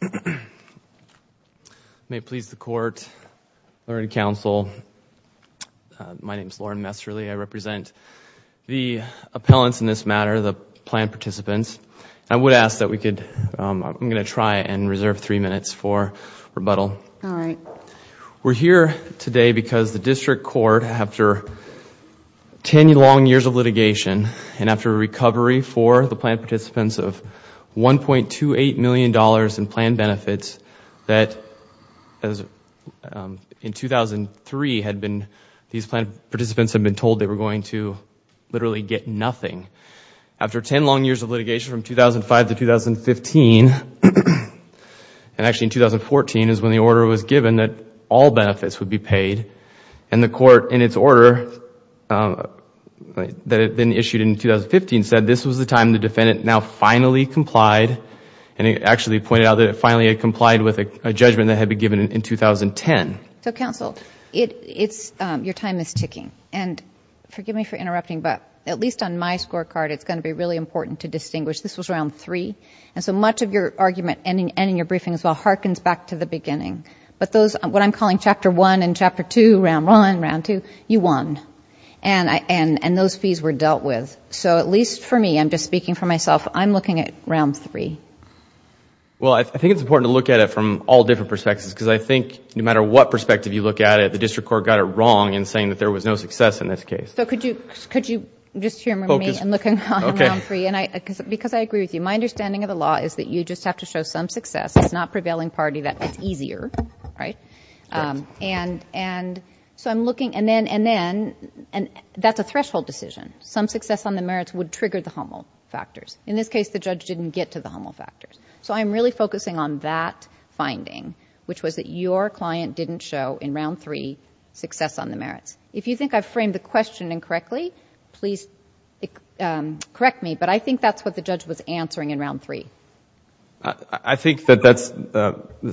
I'm going to try and reserve three minutes for rebuttal. We're here today because the District Court, after ten long years of litigation and after the recovery for the plan participants of $1.28 million in plan benefits that, in 2003, these plan participants had been told they were going to literally get nothing. After ten long years of litigation from 2005 to 2015, and actually in 2014 is when the order was given that all benefits would be paid, and the Court, in its order that had been issued in 2015, said this was the time the defendant now finally complied, and actually pointed out that it finally had complied with a judgment that had been given in 2010. So, counsel, your time is ticking. And forgive me for interrupting, but at least on my scorecard, it's going to be really important to distinguish. This was round three, and so much of your argument, and in your briefing as well, harkens back to the beginning. But those, what I'm calling chapter one and chapter two, round one, round two, you won. And those fees were dealt with. So at least for me, I'm just speaking for myself, I'm looking at round three. Well, I think it's important to look at it from all different perspectives, because I think no matter what perspective you look at it, the District Court got it wrong in saying that there was no success in this case. So could you just hear me and look at round three, because I agree with you. My understanding of the law is that you just have to show some success. It's not prevailing party that it's easier, right? And so I'm looking, and then, that's a threshold decision. Some success on the merits would trigger the humble factors. In this case, the judge didn't get to the humble factors. So I'm really focusing on that finding, which was that your client didn't show, in round three, success on the merits. If you think I've framed the question incorrectly, please correct me, but I think that's what the judge was answering in round three. I think that that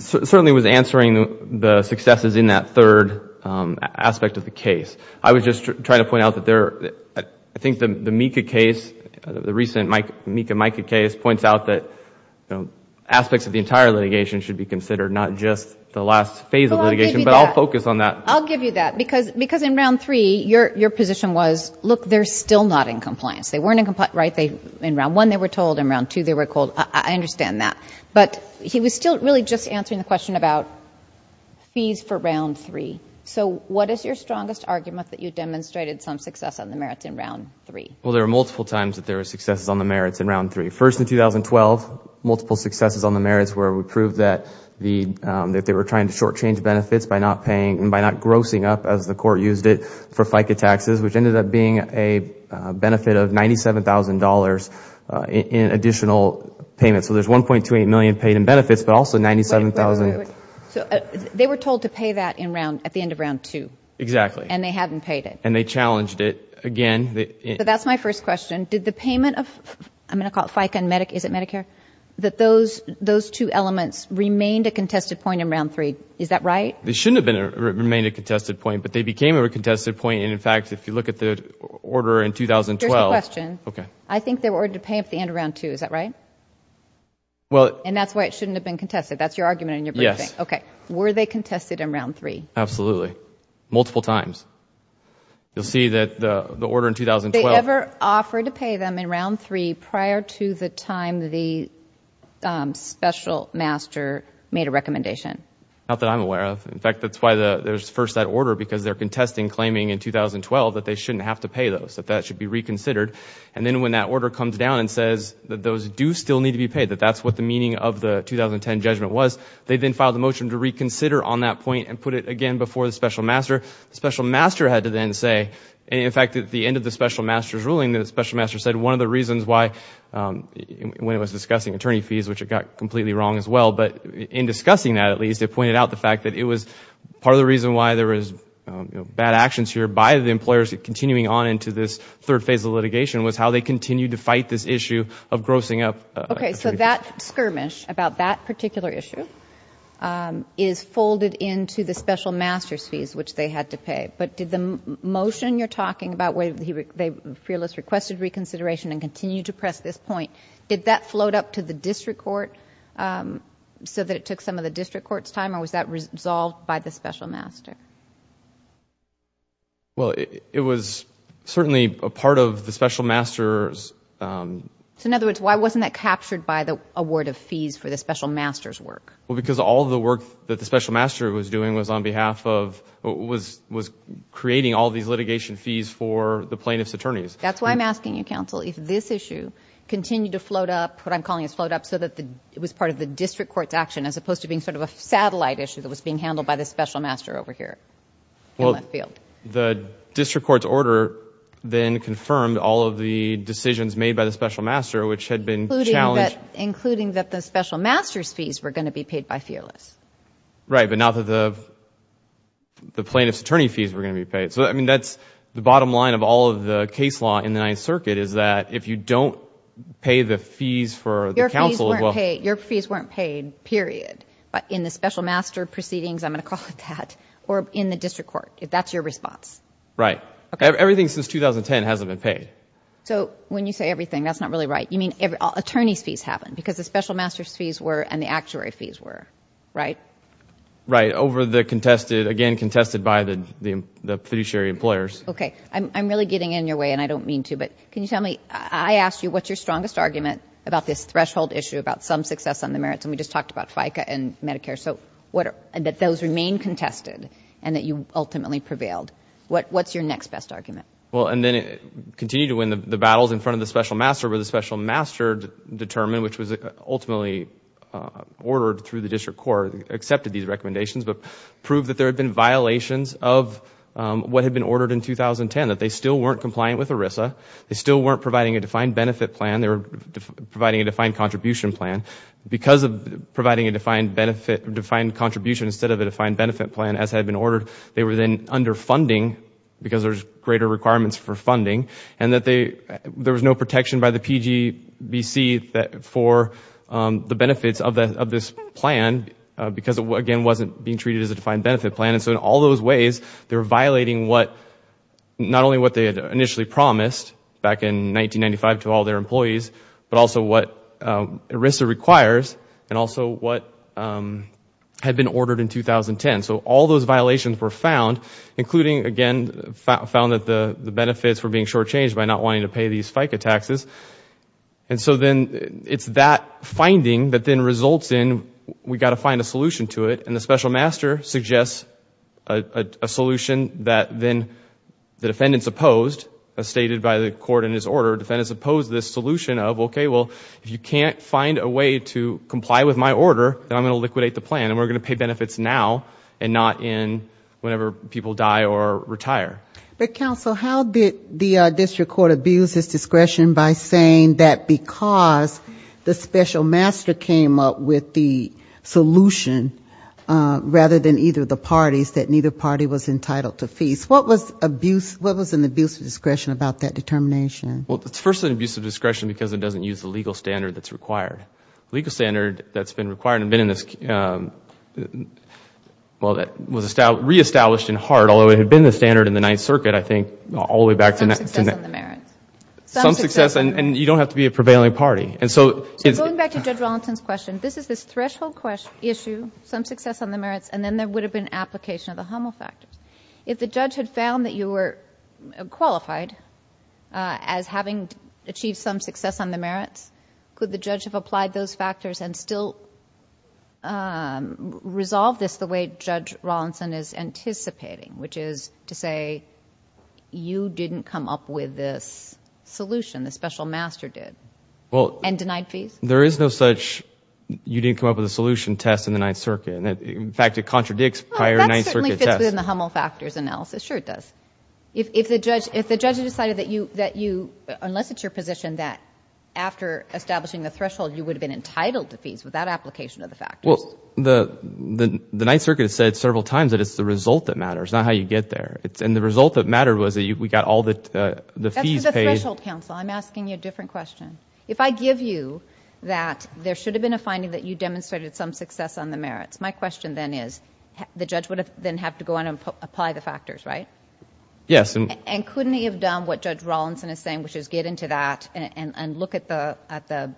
certainly was answering the successes in that third aspect of the case. I was just trying to point out that there, I think the Mika case, the recent Mika Mika case points out that aspects of the entire litigation should be considered, not just the last phase of litigation, but I'll focus on that. I'll give you that, because in round three, your position was, look, they're still not in compliance. They weren't in compliance, right? In round one, they were told. In round two, they were told. I understand that. But he was still really just answering the question about fees for round three. So what is your strongest argument that you demonstrated some success on the merits in round three? Well, there were multiple times that there were successes on the merits in round three. First in 2012, multiple successes on the merits where we proved that they were trying to short change benefits by not paying, by not grossing up, as the court used it, for FICA taxes, which ended up being a benefit of $97,000 in additional payments. So there's $1.28 million paid in benefits, but also $97,000. They were told to pay that at the end of round two. Exactly. And they hadn't paid it. And they challenged it again. But that's my first question. Did the payment of, I'm going to call it FICA and Medicare, is it Medicare? That those two elements remained a contested point in round three. Is that right? They shouldn't have remained a contested point, but they became a contested point. And in fact, if you look at the order in 2012... Here's the question. Okay. I think they were ordered to pay at the end of round two. Is that right? Well... And that's why it shouldn't have been contested. That's your argument in your briefing. Yes. Okay. Were they contested in round three? Absolutely. Multiple times. You'll see that the order in 2012... Did they ever offer to pay them in round three prior to the time the special master made a recommendation? Not that I'm aware of. In fact, that's why there's first that order, because they're contesting, claiming in 2012 that they shouldn't have to pay those, that that should be reconsidered. And then when that order comes down and says that those do still need to be paid, that that's what the meaning of the 2010 judgment was, they then filed a motion to reconsider on that point and put it again before the special master. The special master had to then say... And in fact, at the end of the special master's ruling, the special master said one of the reasons why, when it was discussing attorney fees, which it got completely wrong as well, but in discussing that, at least, it pointed out the fact that it was part of the reason why there was bad actions here by the employers continuing on into this third phase of litigation was how they continued to fight this issue of grossing up... Okay. So that skirmish about that particular issue is folded into the special master's fees, which they had to pay. But did the motion you're talking about, where the fearless requested reconsideration and so that it took some of the district court's time, or was that resolved by the special master? Well, it was certainly a part of the special master's... So in other words, why wasn't that captured by the award of fees for the special master's work? Well, because all of the work that the special master was doing was on behalf of... was creating all these litigation fees for the plaintiff's attorneys. That's why I'm asking you, counsel, if this issue continued to float up, what I'm calling this float up, so that it was part of the district court's action, as opposed to being sort of a satellite issue that was being handled by the special master over here in the field. The district court's order then confirmed all of the decisions made by the special master, which had been challenged... Including that the special master's fees were going to be paid by fearless. Right, but not that the plaintiff's attorney fees were going to be paid. So I mean, that's the bottom line of all of the case law in the Ninth Circuit, is that if you don't pay the fees for the counsel... Your fees weren't paid, period, in the special master proceedings, I'm going to call it that, or in the district court, if that's your response. Right. Everything since 2010 hasn't been paid. So when you say everything, that's not really right. You mean attorney's fees haven't, because the special master's fees were, and the actuary fees were, right? Right, over the contested... again, contested by the fiduciary employers. Okay. I'm really getting in your way, and I don't mean to, but can you tell me... I asked you what's your strongest argument about this threshold issue, about some success on the merits, and we just talked about FICA and Medicare. So that those remain contested, and that you ultimately prevailed. What's your next best argument? Well, and then it continued to win the battles in front of the special master, where the special master determined, which was ultimately ordered through the district court, accepted these recommendations, but proved that there had been violations of what had been ordered in 2010, that they still weren't compliant with ERISA, they still weren't providing a defined benefit plan, they were providing a defined contribution plan. Because of providing a defined contribution instead of a defined benefit plan, as had been ordered, they were then underfunding, because there's greater requirements for funding, and that there was no protection by the PGBC for the benefits of this plan, because it, again, wasn't being treated as a defined benefit plan. And so in all those ways, they were violating not only what they had initially promised back in 1995 to all their employees, but also what ERISA requires, and also what had been ordered in 2010. So all those violations were found, including, again, found that the benefits were being shortchanged by not wanting to pay these FICA taxes. And so then it's that finding that then results in, we've got to find a solution to it, and the special master suggests a solution that then the defendants opposed, as stated by the court in his order, defendants opposed this solution of, okay, well, if you can't find a way to comply with my order, then I'm going to liquidate the plan, and we're going to pay benefits now, and not in whenever people die or retire. But, counsel, how did the district court abuse this discretion by saying that because the rather than either of the parties, that neither party was entitled to fees? What was abuse, what was an abuse of discretion about that determination? Well, it's first an abuse of discretion because it doesn't use the legal standard that's required. Legal standard that's been required and been in this, well, that was re-established in HART, although it had been the standard in the Ninth Circuit, I think, all the way back to that. Some success on the merits. Some success, and you don't have to be a prevailing party. And so it's... So going back to Judge Rollinson's question, this is this threshold issue, some success on the merits, and then there would have been application of the Hummel factors. If the judge had found that you were qualified as having achieved some success on the merits, could the judge have applied those factors and still resolve this the way Judge Rollinson is anticipating, which is to say, you didn't come up with this solution, the special master did, and denied fees? There is no such, you didn't come up with a solution test in the Ninth Circuit. In fact, it contradicts prior Ninth Circuit tests. Well, that certainly fits within the Hummel factors analysis. Sure, it does. If the judge had decided that you, unless it's your position, that after establishing the threshold, you would have been entitled to fees without application of the factors. Well, the Ninth Circuit has said several times that it's the result that matters, not how you get there. And the result that mattered was that we got all the fees paid. That's for the threshold counsel. I'm asking you a different question. If I give you that there should have been a finding that you demonstrated some success on the merits, my question then is, the judge would then have to go on and apply the factors, right? Yes. And couldn't he have done what Judge Rollinson is saying, which is get into that and look at the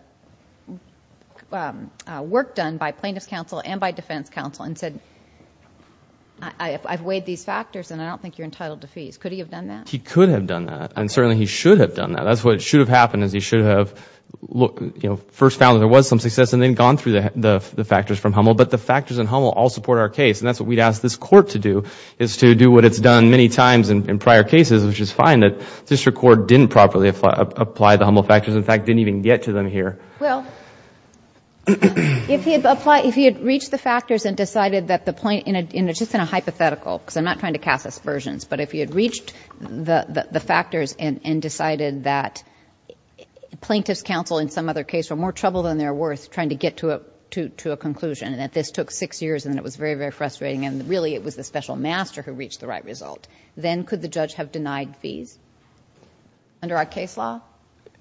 work done by plaintiff's counsel and by defense counsel and said, I've weighed these factors and I don't think you're entitled to fees. Could he have done that? He could have done that. And certainly, he should have done that. That's what should have happened, is he should have first found that there was some success and then gone through the factors from Hummel. But the factors in Hummel all support our case, and that's what we'd ask this Court to do, is to do what it's done many times in prior cases, which is find that District Court didn't properly apply the Hummel factors, in fact, didn't even get to them here. Well, if he had reached the factors and decided that the plaintiff, and it's just in a hypothetical because I'm not trying to cast aspersions, but if he had reached the factors and decided that plaintiff's counsel in some other case were more trouble than they're worth trying to get to a conclusion and that this took six years and it was very, very frustrating and really it was the special master who reached the right result, then could the judge have denied fees under our case law?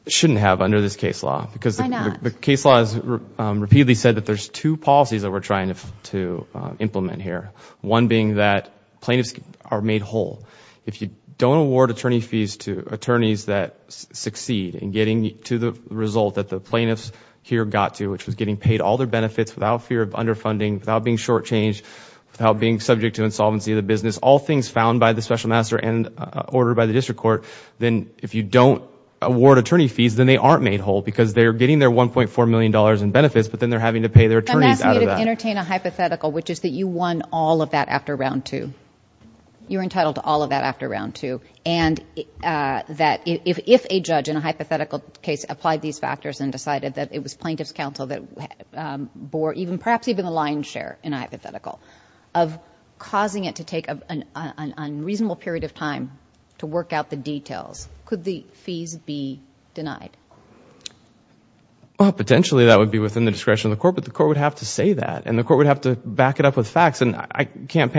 Shouldn't have under this case law because the case law has repeatedly said that there's two policies that we're trying to implement here. One being that plaintiffs are made whole. If you don't award attorney fees to attorneys that succeed in getting to the result that the plaintiffs here got to, which was getting paid all their benefits without fear of underfunding, without being shortchanged, without being subject to insolvency of the business, all things found by the special master and ordered by the District Court, then if you don't award attorney fees, then they aren't made whole because they're getting their $1.4 million in benefits, but then they're having to pay their attorneys out of that. I'm asking you to entertain a hypothetical, which is that you won all of that after round two. You're entitled to all of that after round two and that if a judge in a hypothetical case applied these factors and decided that it was plaintiff's counsel that bore even perhaps even the lion's share in a hypothetical, of causing it to take an unreasonable period of time to work out the details, could the fees be denied? Well, potentially that would be within the discretion of the court, but the court would have to say that and the court would have to back it up with facts and I can't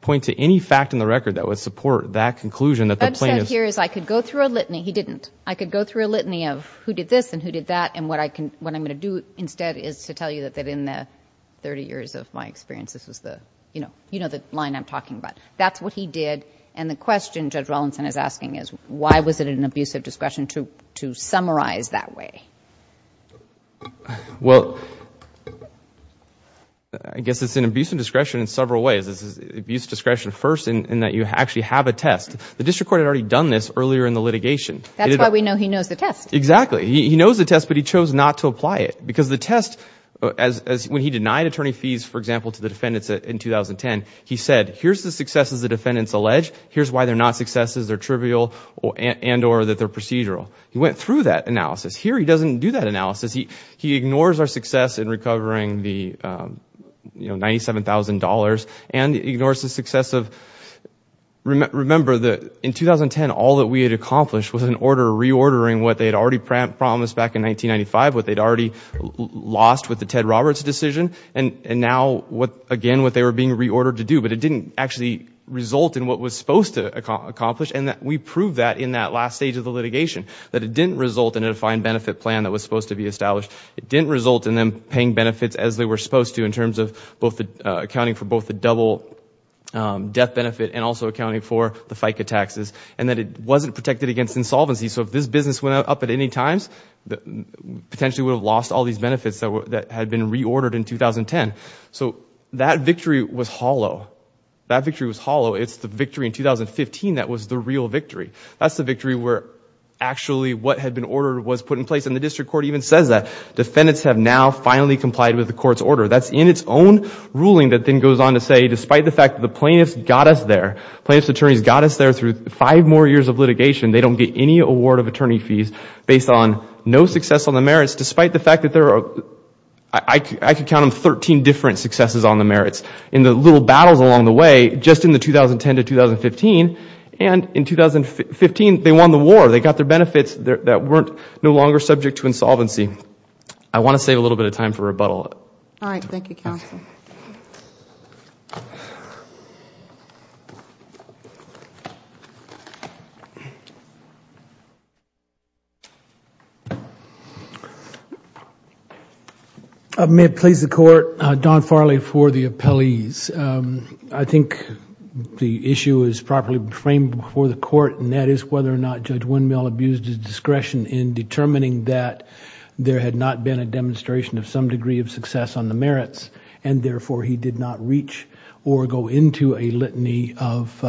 point to any fact in the record that would support that conclusion that the plaintiff's... What I've said here is I could go through a litany. He didn't. I could go through a litany of who did this and who did that and what I'm going to do instead is to tell you that in the 30 years of my experience, this was the line I'm talking about. That's what he did and the question Judge Rollinson is asking is why was it an abusive discretion to summarize that way? Well, I guess it's an abusive discretion in several ways. It's an abusive discretion first in that you actually have a test. The district court had already done this earlier in the litigation. That's why we know he knows the test. Exactly. He knows the test, but he chose not to apply it because the test, when he denied attorney fees for example to the defendants in 2010, he said here's the successes the defendants allege, here's why they're not successes, they're trivial and or that they're procedural. He went through that analysis. Here he doesn't do that analysis. He ignores our success in recovering the $97,000 and ignores the success of, remember in 2010 all that we had accomplished was in order of reordering what they had already promised back in 1995, what they'd already lost with the Ted Roberts decision and now again what they were being reordered to do, but it didn't actually result in what was supposed to accomplish and we proved that in that last stage of the litigation, that it didn't result in a defined benefit plan that was supposed to be established. It didn't result in them paying benefits as they were supposed to in terms of both the accounting for both the double death benefit and also accounting for the FICA taxes and that it wasn't protected against insolvency. So if this business went up at any times, potentially we would have lost all these benefits that had been reordered in 2010. So that victory was hollow. That victory was hollow. It's the victory in 2015 that was the real victory. That's the victory where actually what had been ordered was put in place and the district court even says that. Defendants have now finally complied with the court's order. That's in its own ruling that then goes on to say despite the fact that the plaintiffs got us there, plaintiffs' attorneys got us there through five more years of litigation, they don't get any award of attorney fees based on no success on the merits despite the fact that there are, I could count them, 13 different successes on the merits. In the little battles along the way, just in the 2010 to 2015 and in 2015, they won the war. They got their benefits that weren't no longer subject to insolvency. I want to save a little bit of time for rebuttal. All right. Thank you, counsel. May it please the court, Don Farley for the appellees. I think the issue is properly framed before the court and that is whether or not Judge Windmill abused his discretion in determining that there had not been a demonstration of some degree of success on the merits and therefore he did not reach or go into a litany of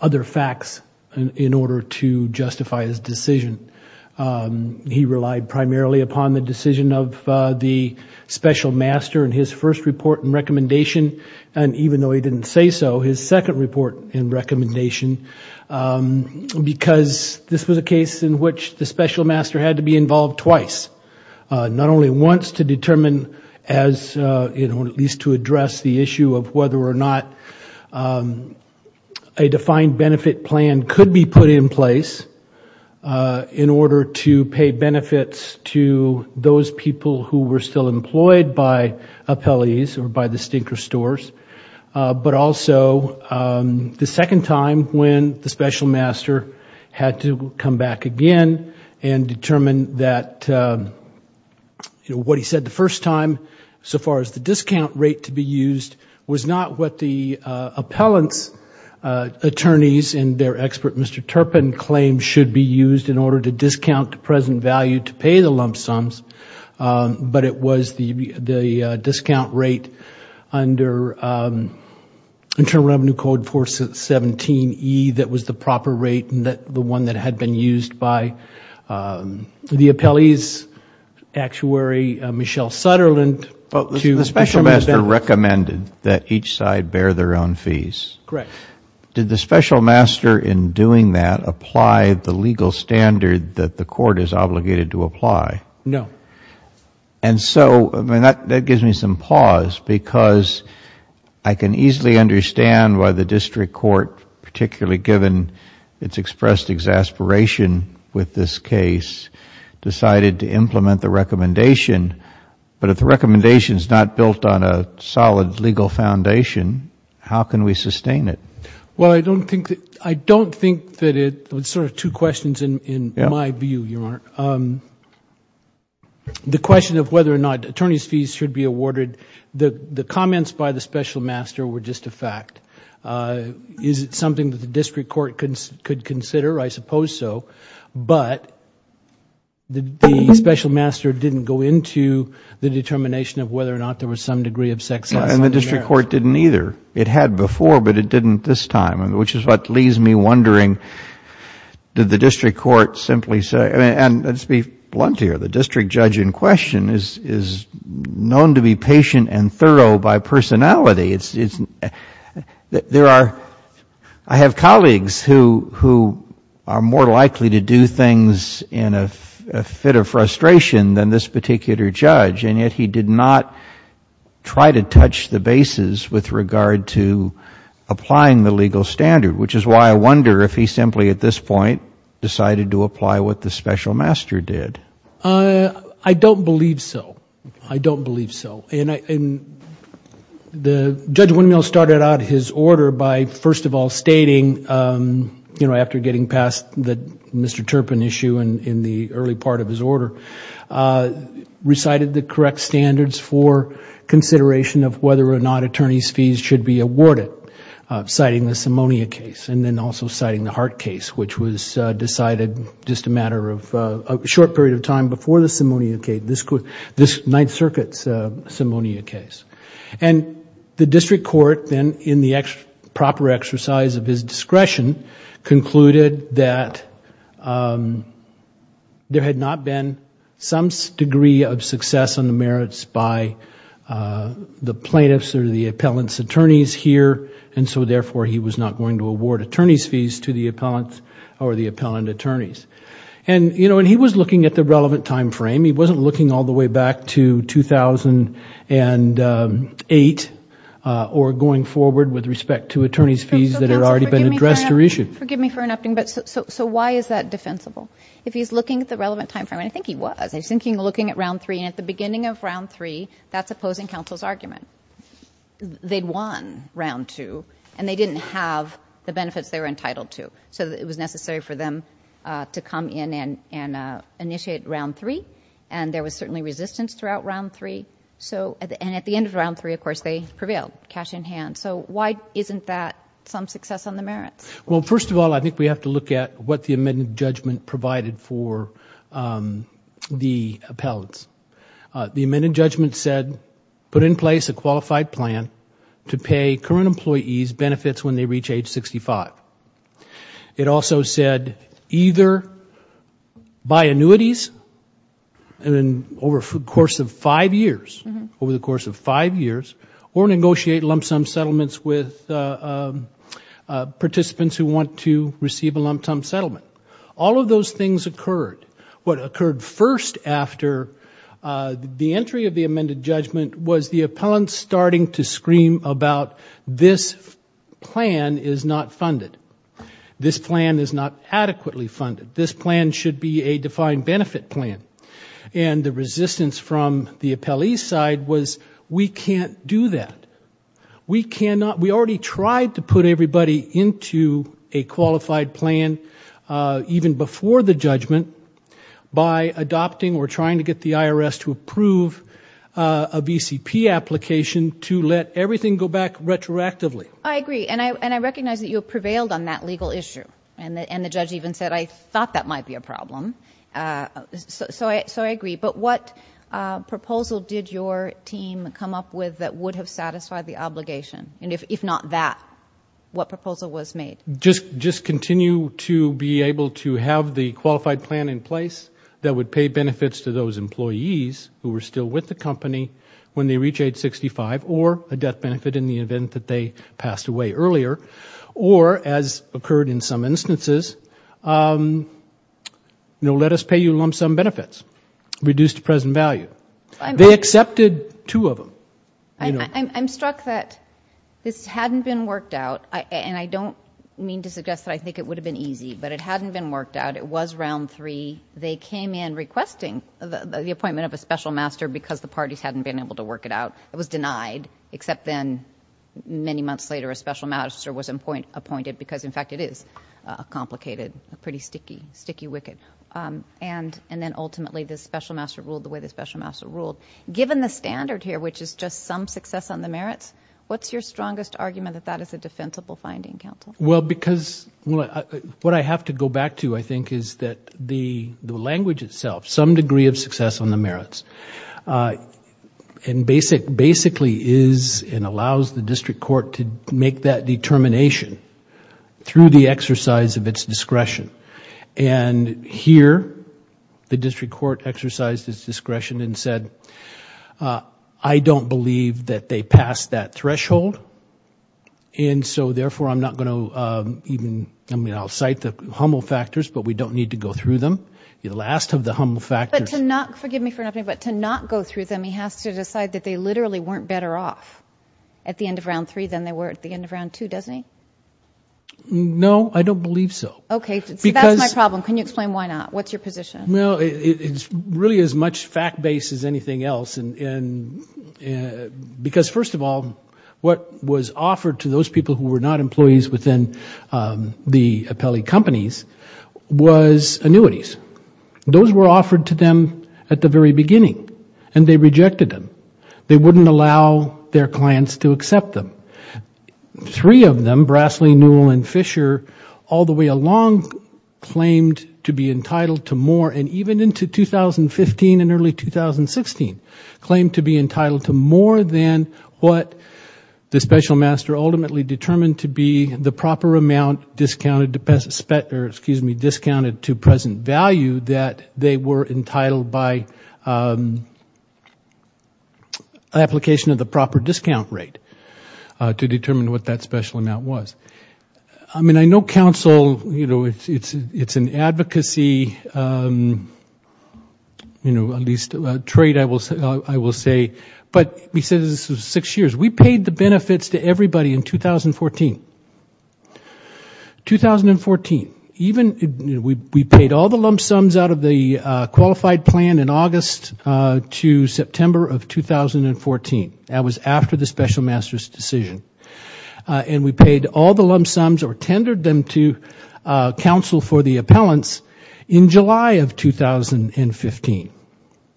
other facts in order to justify his decision. He relied primarily upon the decision of the special master in his first report and recommendation and even though he didn't say so, his second report and recommendation because this was a case in which the special master had to be involved twice. Not only once to determine or at least to address the issue of whether or not a defined benefit plan could be put in place in order to pay benefits to those people who were still employed by appellees or by the stinker stores, but also the second time when the special master had to come back again and determine that what he said the first time so far as the discount rate to be used was not what the appellant's attorneys and their expert Mr. Turpin claimed should be used in order to discount the present value to pay the lump rate and the one that had been used by the appellee's actuary, Michelle Sutterland... The special master recommended that each side bear their own fees. Correct. Did the special master in doing that apply the legal standard that the court is obligated to apply? No. And so that gives me some pause because I can easily understand why the district court particularly given it's expressed exasperation with this case decided to implement the recommendation. But if the recommendation is not built on a solid legal foundation, how can we sustain it? Well, I don't think that it... it's sort of two questions in my view, Your Honor. The question of whether or not attorney's fees should be awarded, the comments by the special master were just a fact. Is it something that the district court could consider? I suppose so. But the special master didn't go into the determination of whether or not there was some degree of sex offense. And the district court didn't either. It had before, but it didn't this time, which is what leaves me wondering did the district court simply say... and let's be blunt here, the district judge in question is known to be patient and thorough by personality. There are... I have colleagues who are more likely to do things in a fit of frustration than this particular judge, and yet he did not try to touch the bases with regard to applying the legal standard, which is why I wonder if he simply at this point decided to apply what the special master did. I don't believe so. I don't believe so. The Judge Winemill started out his order by first of all stating, after getting past the Mr. Turpin issue in the early part of his order, recited the correct standards for consideration of whether or not attorney's fees should be awarded, citing the Simonia case and then also citing the Hart case, which was decided just a matter of a short period of time before the Simonia case. This Ninth Circuit's Simonia case. The district court then in the proper exercise of his discretion concluded that there had not been some degree of success on the merits by the plaintiffs or the appellant's attorneys here and so therefore he was not going to award attorney's fees to the appellant or the appellant attorneys. He was looking at the relevant time frame. He wasn't looking all the way back to 2008 or going forward with respect to attorney's fees that had already been addressed or issued. Forgive me for interrupting, but so why is that defensible? If he's looking at the relevant time frame, and I think he was, I think he was looking at round three and at the beginning of round three, that's opposing counsel's argument. They'd won round two and they didn't have the benefits they were entitled to, so it was necessary for them to come in and initiate round three and there was certainly resistance throughout round three, and at the end of round three, of course, they prevailed, cash in hand. So why isn't that some success on the merits? Well, first of all, I think we have to look at what the amended judgment provided for the appellants. The amended judgment said, put in place a qualified plan to pay current employees benefits when they reach age 65. It also said either buy annuities over the course of five years or negotiate lump sum settlements with participants who want to receive a lump sum settlement. All of those things occurred. What occurred first after the entry of the amended judgment was the appellant starting to scream about, this plan is not funded. This plan is not adequately funded. This plan should be a defined benefit plan. And the resistance from the appellee side was, we can't do that. We cannot, we already tried to put everybody into a qualified plan even before the judgment by adopting or trying to get the IRS to approve a BCP application to let everything go back retroactively. I agree. And I recognize that you prevailed on that legal issue. And the judge even said, I thought that might be a problem. So I agree. But what proposal did your team come up with that would have satisfied the obligation? And if not that, what proposal was made? Just continue to be able to have the qualified plan in place that would pay benefits to those employees who were still with the company when they reach age 65, or a death benefit in the event that they passed away earlier, or as occurred in some instances, let us pay you lump sum benefits, reduced to present value. They accepted two of them. I'm struck that this hadn't been worked out. And I don't mean to suggest that I think it would have been easy, but it hadn't been worked out. It was round three. They came in requesting the appointment of a special master because the parties hadn't been able to work it out. It was denied, except then, many months later, a special master was appointed because in fact it is complicated, pretty sticky, sticky wicked. And then ultimately, the special master ruled the way the special master ruled. Given the standard here, which is just some success on the merits, what's your strongest argument that that is a defensible finding, counsel? Well, because what I have to go back to, I think, is that the language itself, some degree of success on the merits, and basically is and allows the district court to make that determination through the exercise of its discretion. And here, the district court exercised its discretion and said, I don't believe that they passed that threshold. And so therefore, I'm not going to even, I mean, I'll cite the humble factors, but we don't need to go through them. The last of the humble factors- But to not, forgive me for interrupting, but to not go through them, he has to decide that they literally weren't better off at the end of round three than they were at the end of round two, doesn't he? No, I don't believe so. So that's my problem. Can you explain why not? What's your position? Well, it's really as much fact-based as anything else, because first of all, what was offered to those people who were not employees within the appellee companies was annuities. Those were offered to them at the very beginning, and they rejected them. They wouldn't allow their clients to accept them. Three of them, Brasley, Newell, and Fisher, all the way along, claimed to be entitled to more, and even into 2015 and early 2016, claimed to be entitled to more than what the special master ultimately determined to be the proper amount discounted to present value that they were entitled by application of the proper discount rate to determine what that special amount was. I mean, I know counsel, it's an advocacy, at least a trade, I will say. But we said this was six years. We paid the benefits to everybody in 2014. 2014, we paid all the lump sums out of the qualified plan in August to September of 2014. That was after the special master's decision, and we paid all the lump sums or tendered them to counsel for the appellants in July of 2015,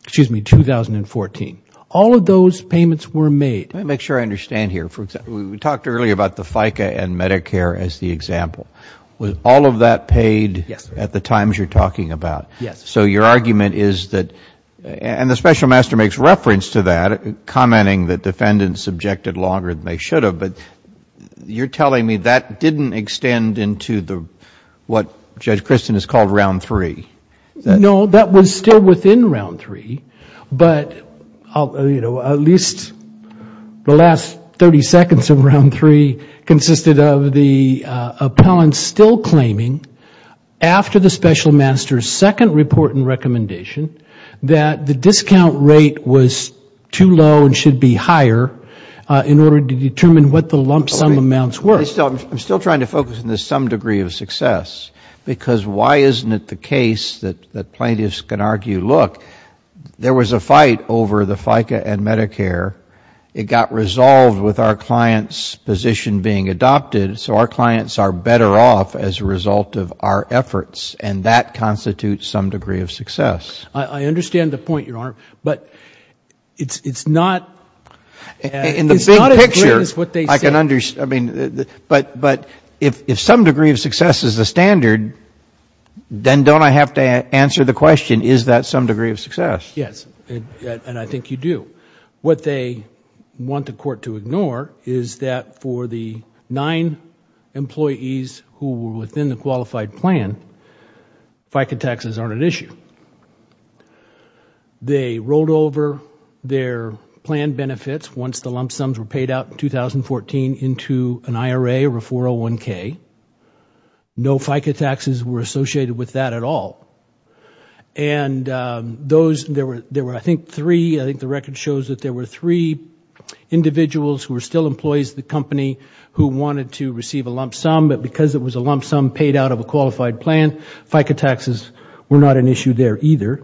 excuse me, 2014. All of those payments were made. Let me make sure I understand here. We talked earlier about the FICA and Medicare as the example. Was all of that paid at the times you're talking about? Yes. So your argument is that, and the special master makes reference to that, commenting that defendants objected longer than they should have, but you're telling me that didn't extend into what Judge Christin has called round three? No, that was still within round three, but at least the last 30 seconds of round three consisted of the appellants still claiming after the special master's second report and recommendation that the discount rate was too low and should be higher in order to determine what the lump sum amounts were. I'm still trying to focus on the some degree of success, because why isn't it the case that plaintiffs can argue, look, there was a fight over the FICA and Medicare. It got resolved with our client's position being adopted, so our clients are better off as a result of our efforts, and that constitutes some degree of success. I understand the point, Your Honor, but it's not as great as what they say. But if some degree of success is the standard, then don't I have to answer the question, is that some degree of success? Yes, and I think you do. What they want the Court to ignore is that for the nine employees who were within the qualified plan, FICA taxes aren't an issue. They rolled over their plan benefits once the lump sums were paid out in 2014 into an IRA or a 401k. No FICA taxes were associated with that at all. And there were, I think, three, I think the record shows that there were three individuals who were still employees of the company who wanted to receive a lump sum, but because it was a lump sum paid out of a qualified plan, FICA taxes were not an issue there either.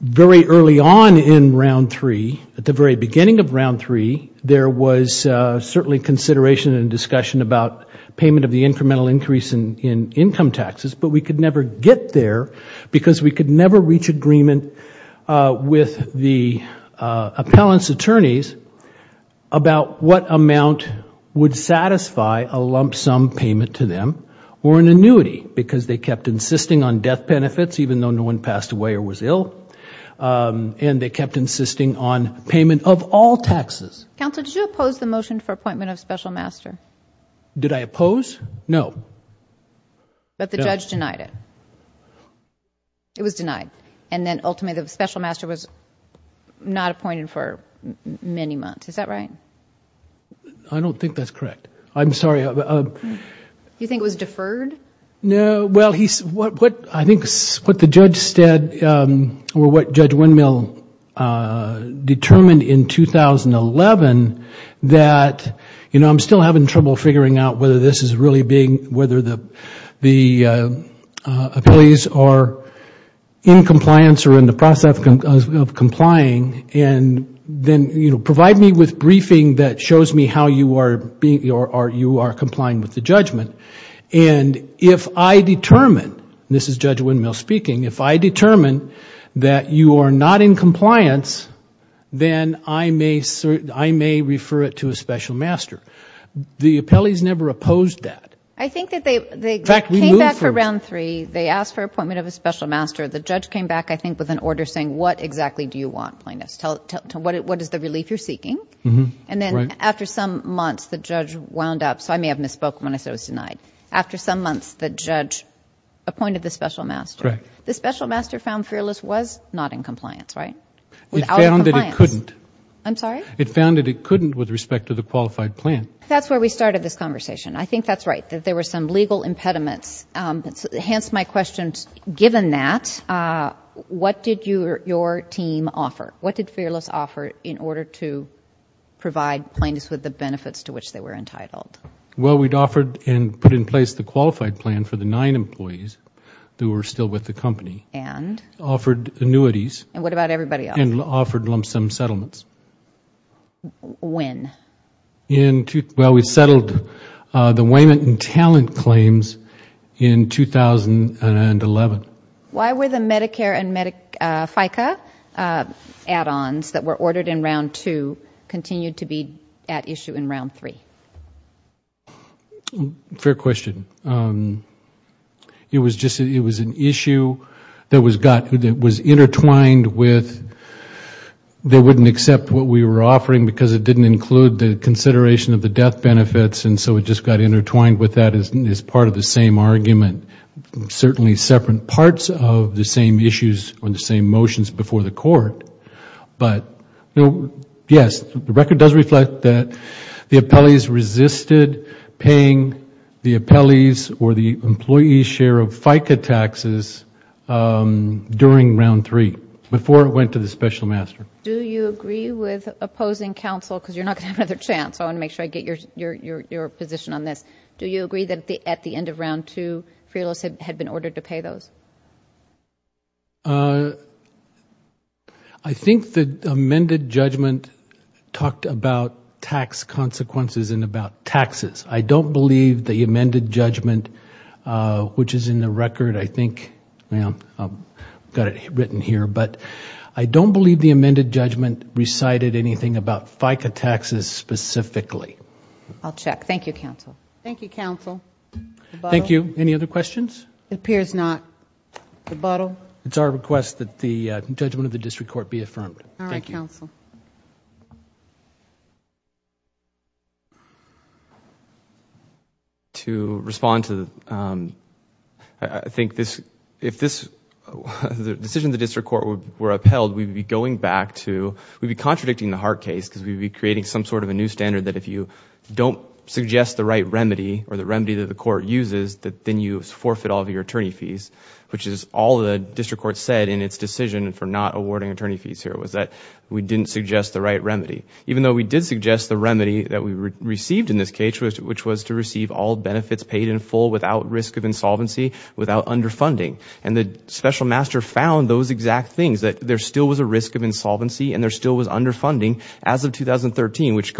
Very early on in round three, at the very beginning of round three, there was certainly consideration and discussion about payment of the incremental increase in income taxes, but we could never get there because we could never reach agreement with the appellant's attorneys about what amount would satisfy a lump sum payment to them or an annuity, because they kept insisting on death benefits, even though no one passed away or was ill, and they kept insisting on payment of all taxes. Counsel, did you oppose the motion for appointment of special master? Did I oppose? No. But the judge denied it. It was denied. And then ultimately, the special master was not appointed for many months. Is that right? I don't think that's correct. I'm sorry. Do you think it was deferred? No. Well, I think what the judge said, or what Judge Windmill determined in 2011, that, you know, I'm still having trouble figuring out whether this is really being, whether the appellees are in compliance or in the process of complying, and then, you know, provide me with briefing that shows me how you are being, or you are complying with the judgment. And if I determine, this is Judge Windmill speaking, if I determine that you are not in compliance, then I may refer it to a special master. The appellees never opposed that. I think that they came back for round three. They asked for appointment of a special master. The judge came back, I think, with an order saying, what exactly do you want, plaintiff? What is the relief you're seeking? And then, after some months, the judge wound up, so I may have misspoke when I said it was denied. After some months, the judge appointed the special master. The special master found Fearless was not in compliance, right? Without compliance. It found that it couldn't. I'm sorry? It found that it couldn't with respect to the qualified plan. That's where we started this conversation. I think that's right. That there were some legal impediments, hence my question, given that, what did your team offer? What did Fearless offer in order to provide plaintiffs with the benefits to which they were entitled? Well, we'd offered and put in place the qualified plan for the nine employees who were still with the company. And? Offered annuities. And what about everybody else? And offered lump sum settlements. When? Well, we settled the Wayman and Talent claims in 2011. Why were the Medicare and FICA add-ons that were ordered in round two continued to be at issue in round three? Fair question. It was an issue that was intertwined with they wouldn't accept what we were offering because it didn't include the consideration of the death benefits and so it just got intertwined with that as part of the same argument. Certainly separate parts of the same issues on the same motions before the court. But yes, the record does reflect that the appellees resisted paying the appellees or the employee's share of FICA taxes during round three, before it went to the special master. Do you agree with opposing counsel, because you're not going to have another chance, I want to make sure I get your position on this. Do you agree that at the end of round two, free lists had been ordered to pay those? I think the amended judgment talked about tax consequences and about taxes. I don't believe the amended judgment, which is in the record, I think, I've got it written down here, but I don't believe the amended judgment recited anything about FICA taxes specifically. I'll check. Thank you, counsel. Thank you, counsel. Thank you. Any other questions? It appears not. It's our request that the judgment of the district court be affirmed. Thank you. Thank you, counsel. To respond to, I think, if the decision of the district court were upheld, we'd be going back to, we'd be contradicting the Hart case, because we'd be creating some sort of a new standard that if you don't suggest the right remedy, or the remedy that the court uses, that then you forfeit all of your attorney fees, which is all the district court said in its decision for not awarding attorney fees here, was that we didn't suggest the right remedy. Even though we did suggest the remedy that we received in this case, which was to receive all benefits paid in full without risk of insolvency, without underfunding. The special master found those exact things, that there still was a risk of insolvency and there still was underfunding as of 2013, which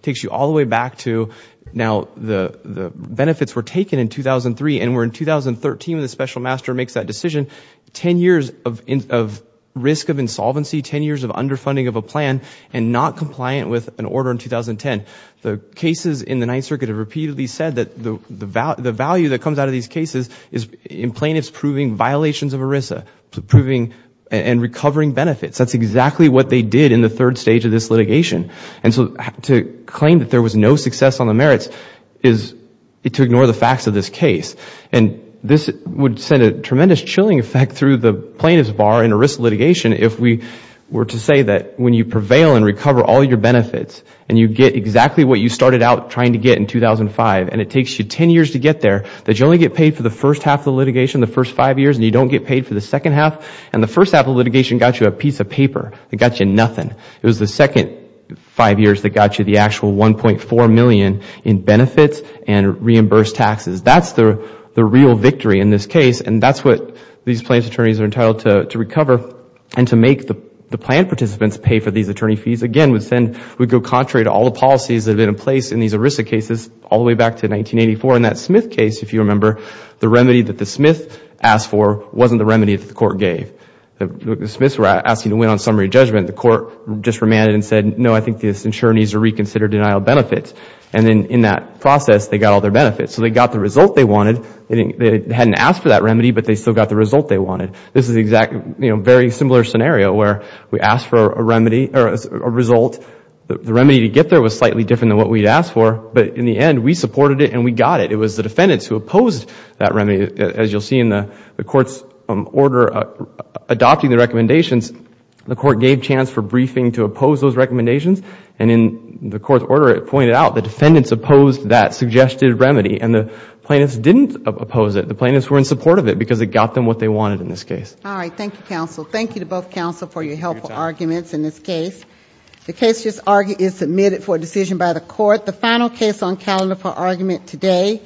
takes you all the way back to, now, the benefits were taken in 2003, and we're in 2013 when the special master makes that decision. Ten years of risk of insolvency, ten years of underfunding of a plan, and not compliant with an order in 2010. The cases in the Ninth Circuit have repeatedly said that the value that comes out of these cases is in plaintiffs proving violations of ERISA, proving and recovering benefits. That's exactly what they did in the third stage of this litigation. And so to claim that there was no success on the merits is to ignore the facts of this case. This would send a tremendous chilling effect through the plaintiff's bar in ERISA litigation if we were to say that when you prevail and recover all your benefits and you get exactly what you started out trying to get in 2005, and it takes you ten years to get there, that you only get paid for the first half of the litigation, the first five years, and you don't get paid for the second half, and the first half of the litigation got you a piece of paper. It got you nothing. It was the second five years that got you the actual $1.4 million in benefits and reimbursed taxes. That's the real victory in this case and that's what these plaintiff's attorneys are entitled to recover and to make the plaintiff's participants pay for these attorney fees again would go contrary to all the policies that have been in place in these ERISA cases all the way back to 1984. In that Smith case, if you remember, the remedy that the Smith asked for wasn't the remedy that the Court gave. The Smiths were asking to win on summary judgment. The Court just remanded and said, no, I think this insurer needs to reconsider denial of benefits. And then in that process, they got all their benefits. So they got the result they wanted. They hadn't asked for that remedy, but they still got the result they wanted. This is a very similar scenario where we asked for a remedy or a result. The remedy to get there was slightly different than what we had asked for, but in the end, we supported it and we got it. It was the defendants who opposed that remedy. As you'll see in the Court's order adopting the recommendations, the Court gave chance for briefing to oppose those recommendations and in the Court's order, it pointed out the plaintiffs didn't oppose it. The plaintiffs were in support of it because it got them what they wanted in this case. All right. Thank you, counsel. Thank you to both counsel for your helpful arguments in this case. The case is submitted for decision by the Court. The final case on calendar for argument today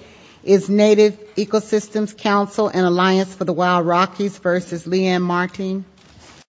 is Native Ecosystems Council and Alliance for the Wild Rockies v. Leanne Martin.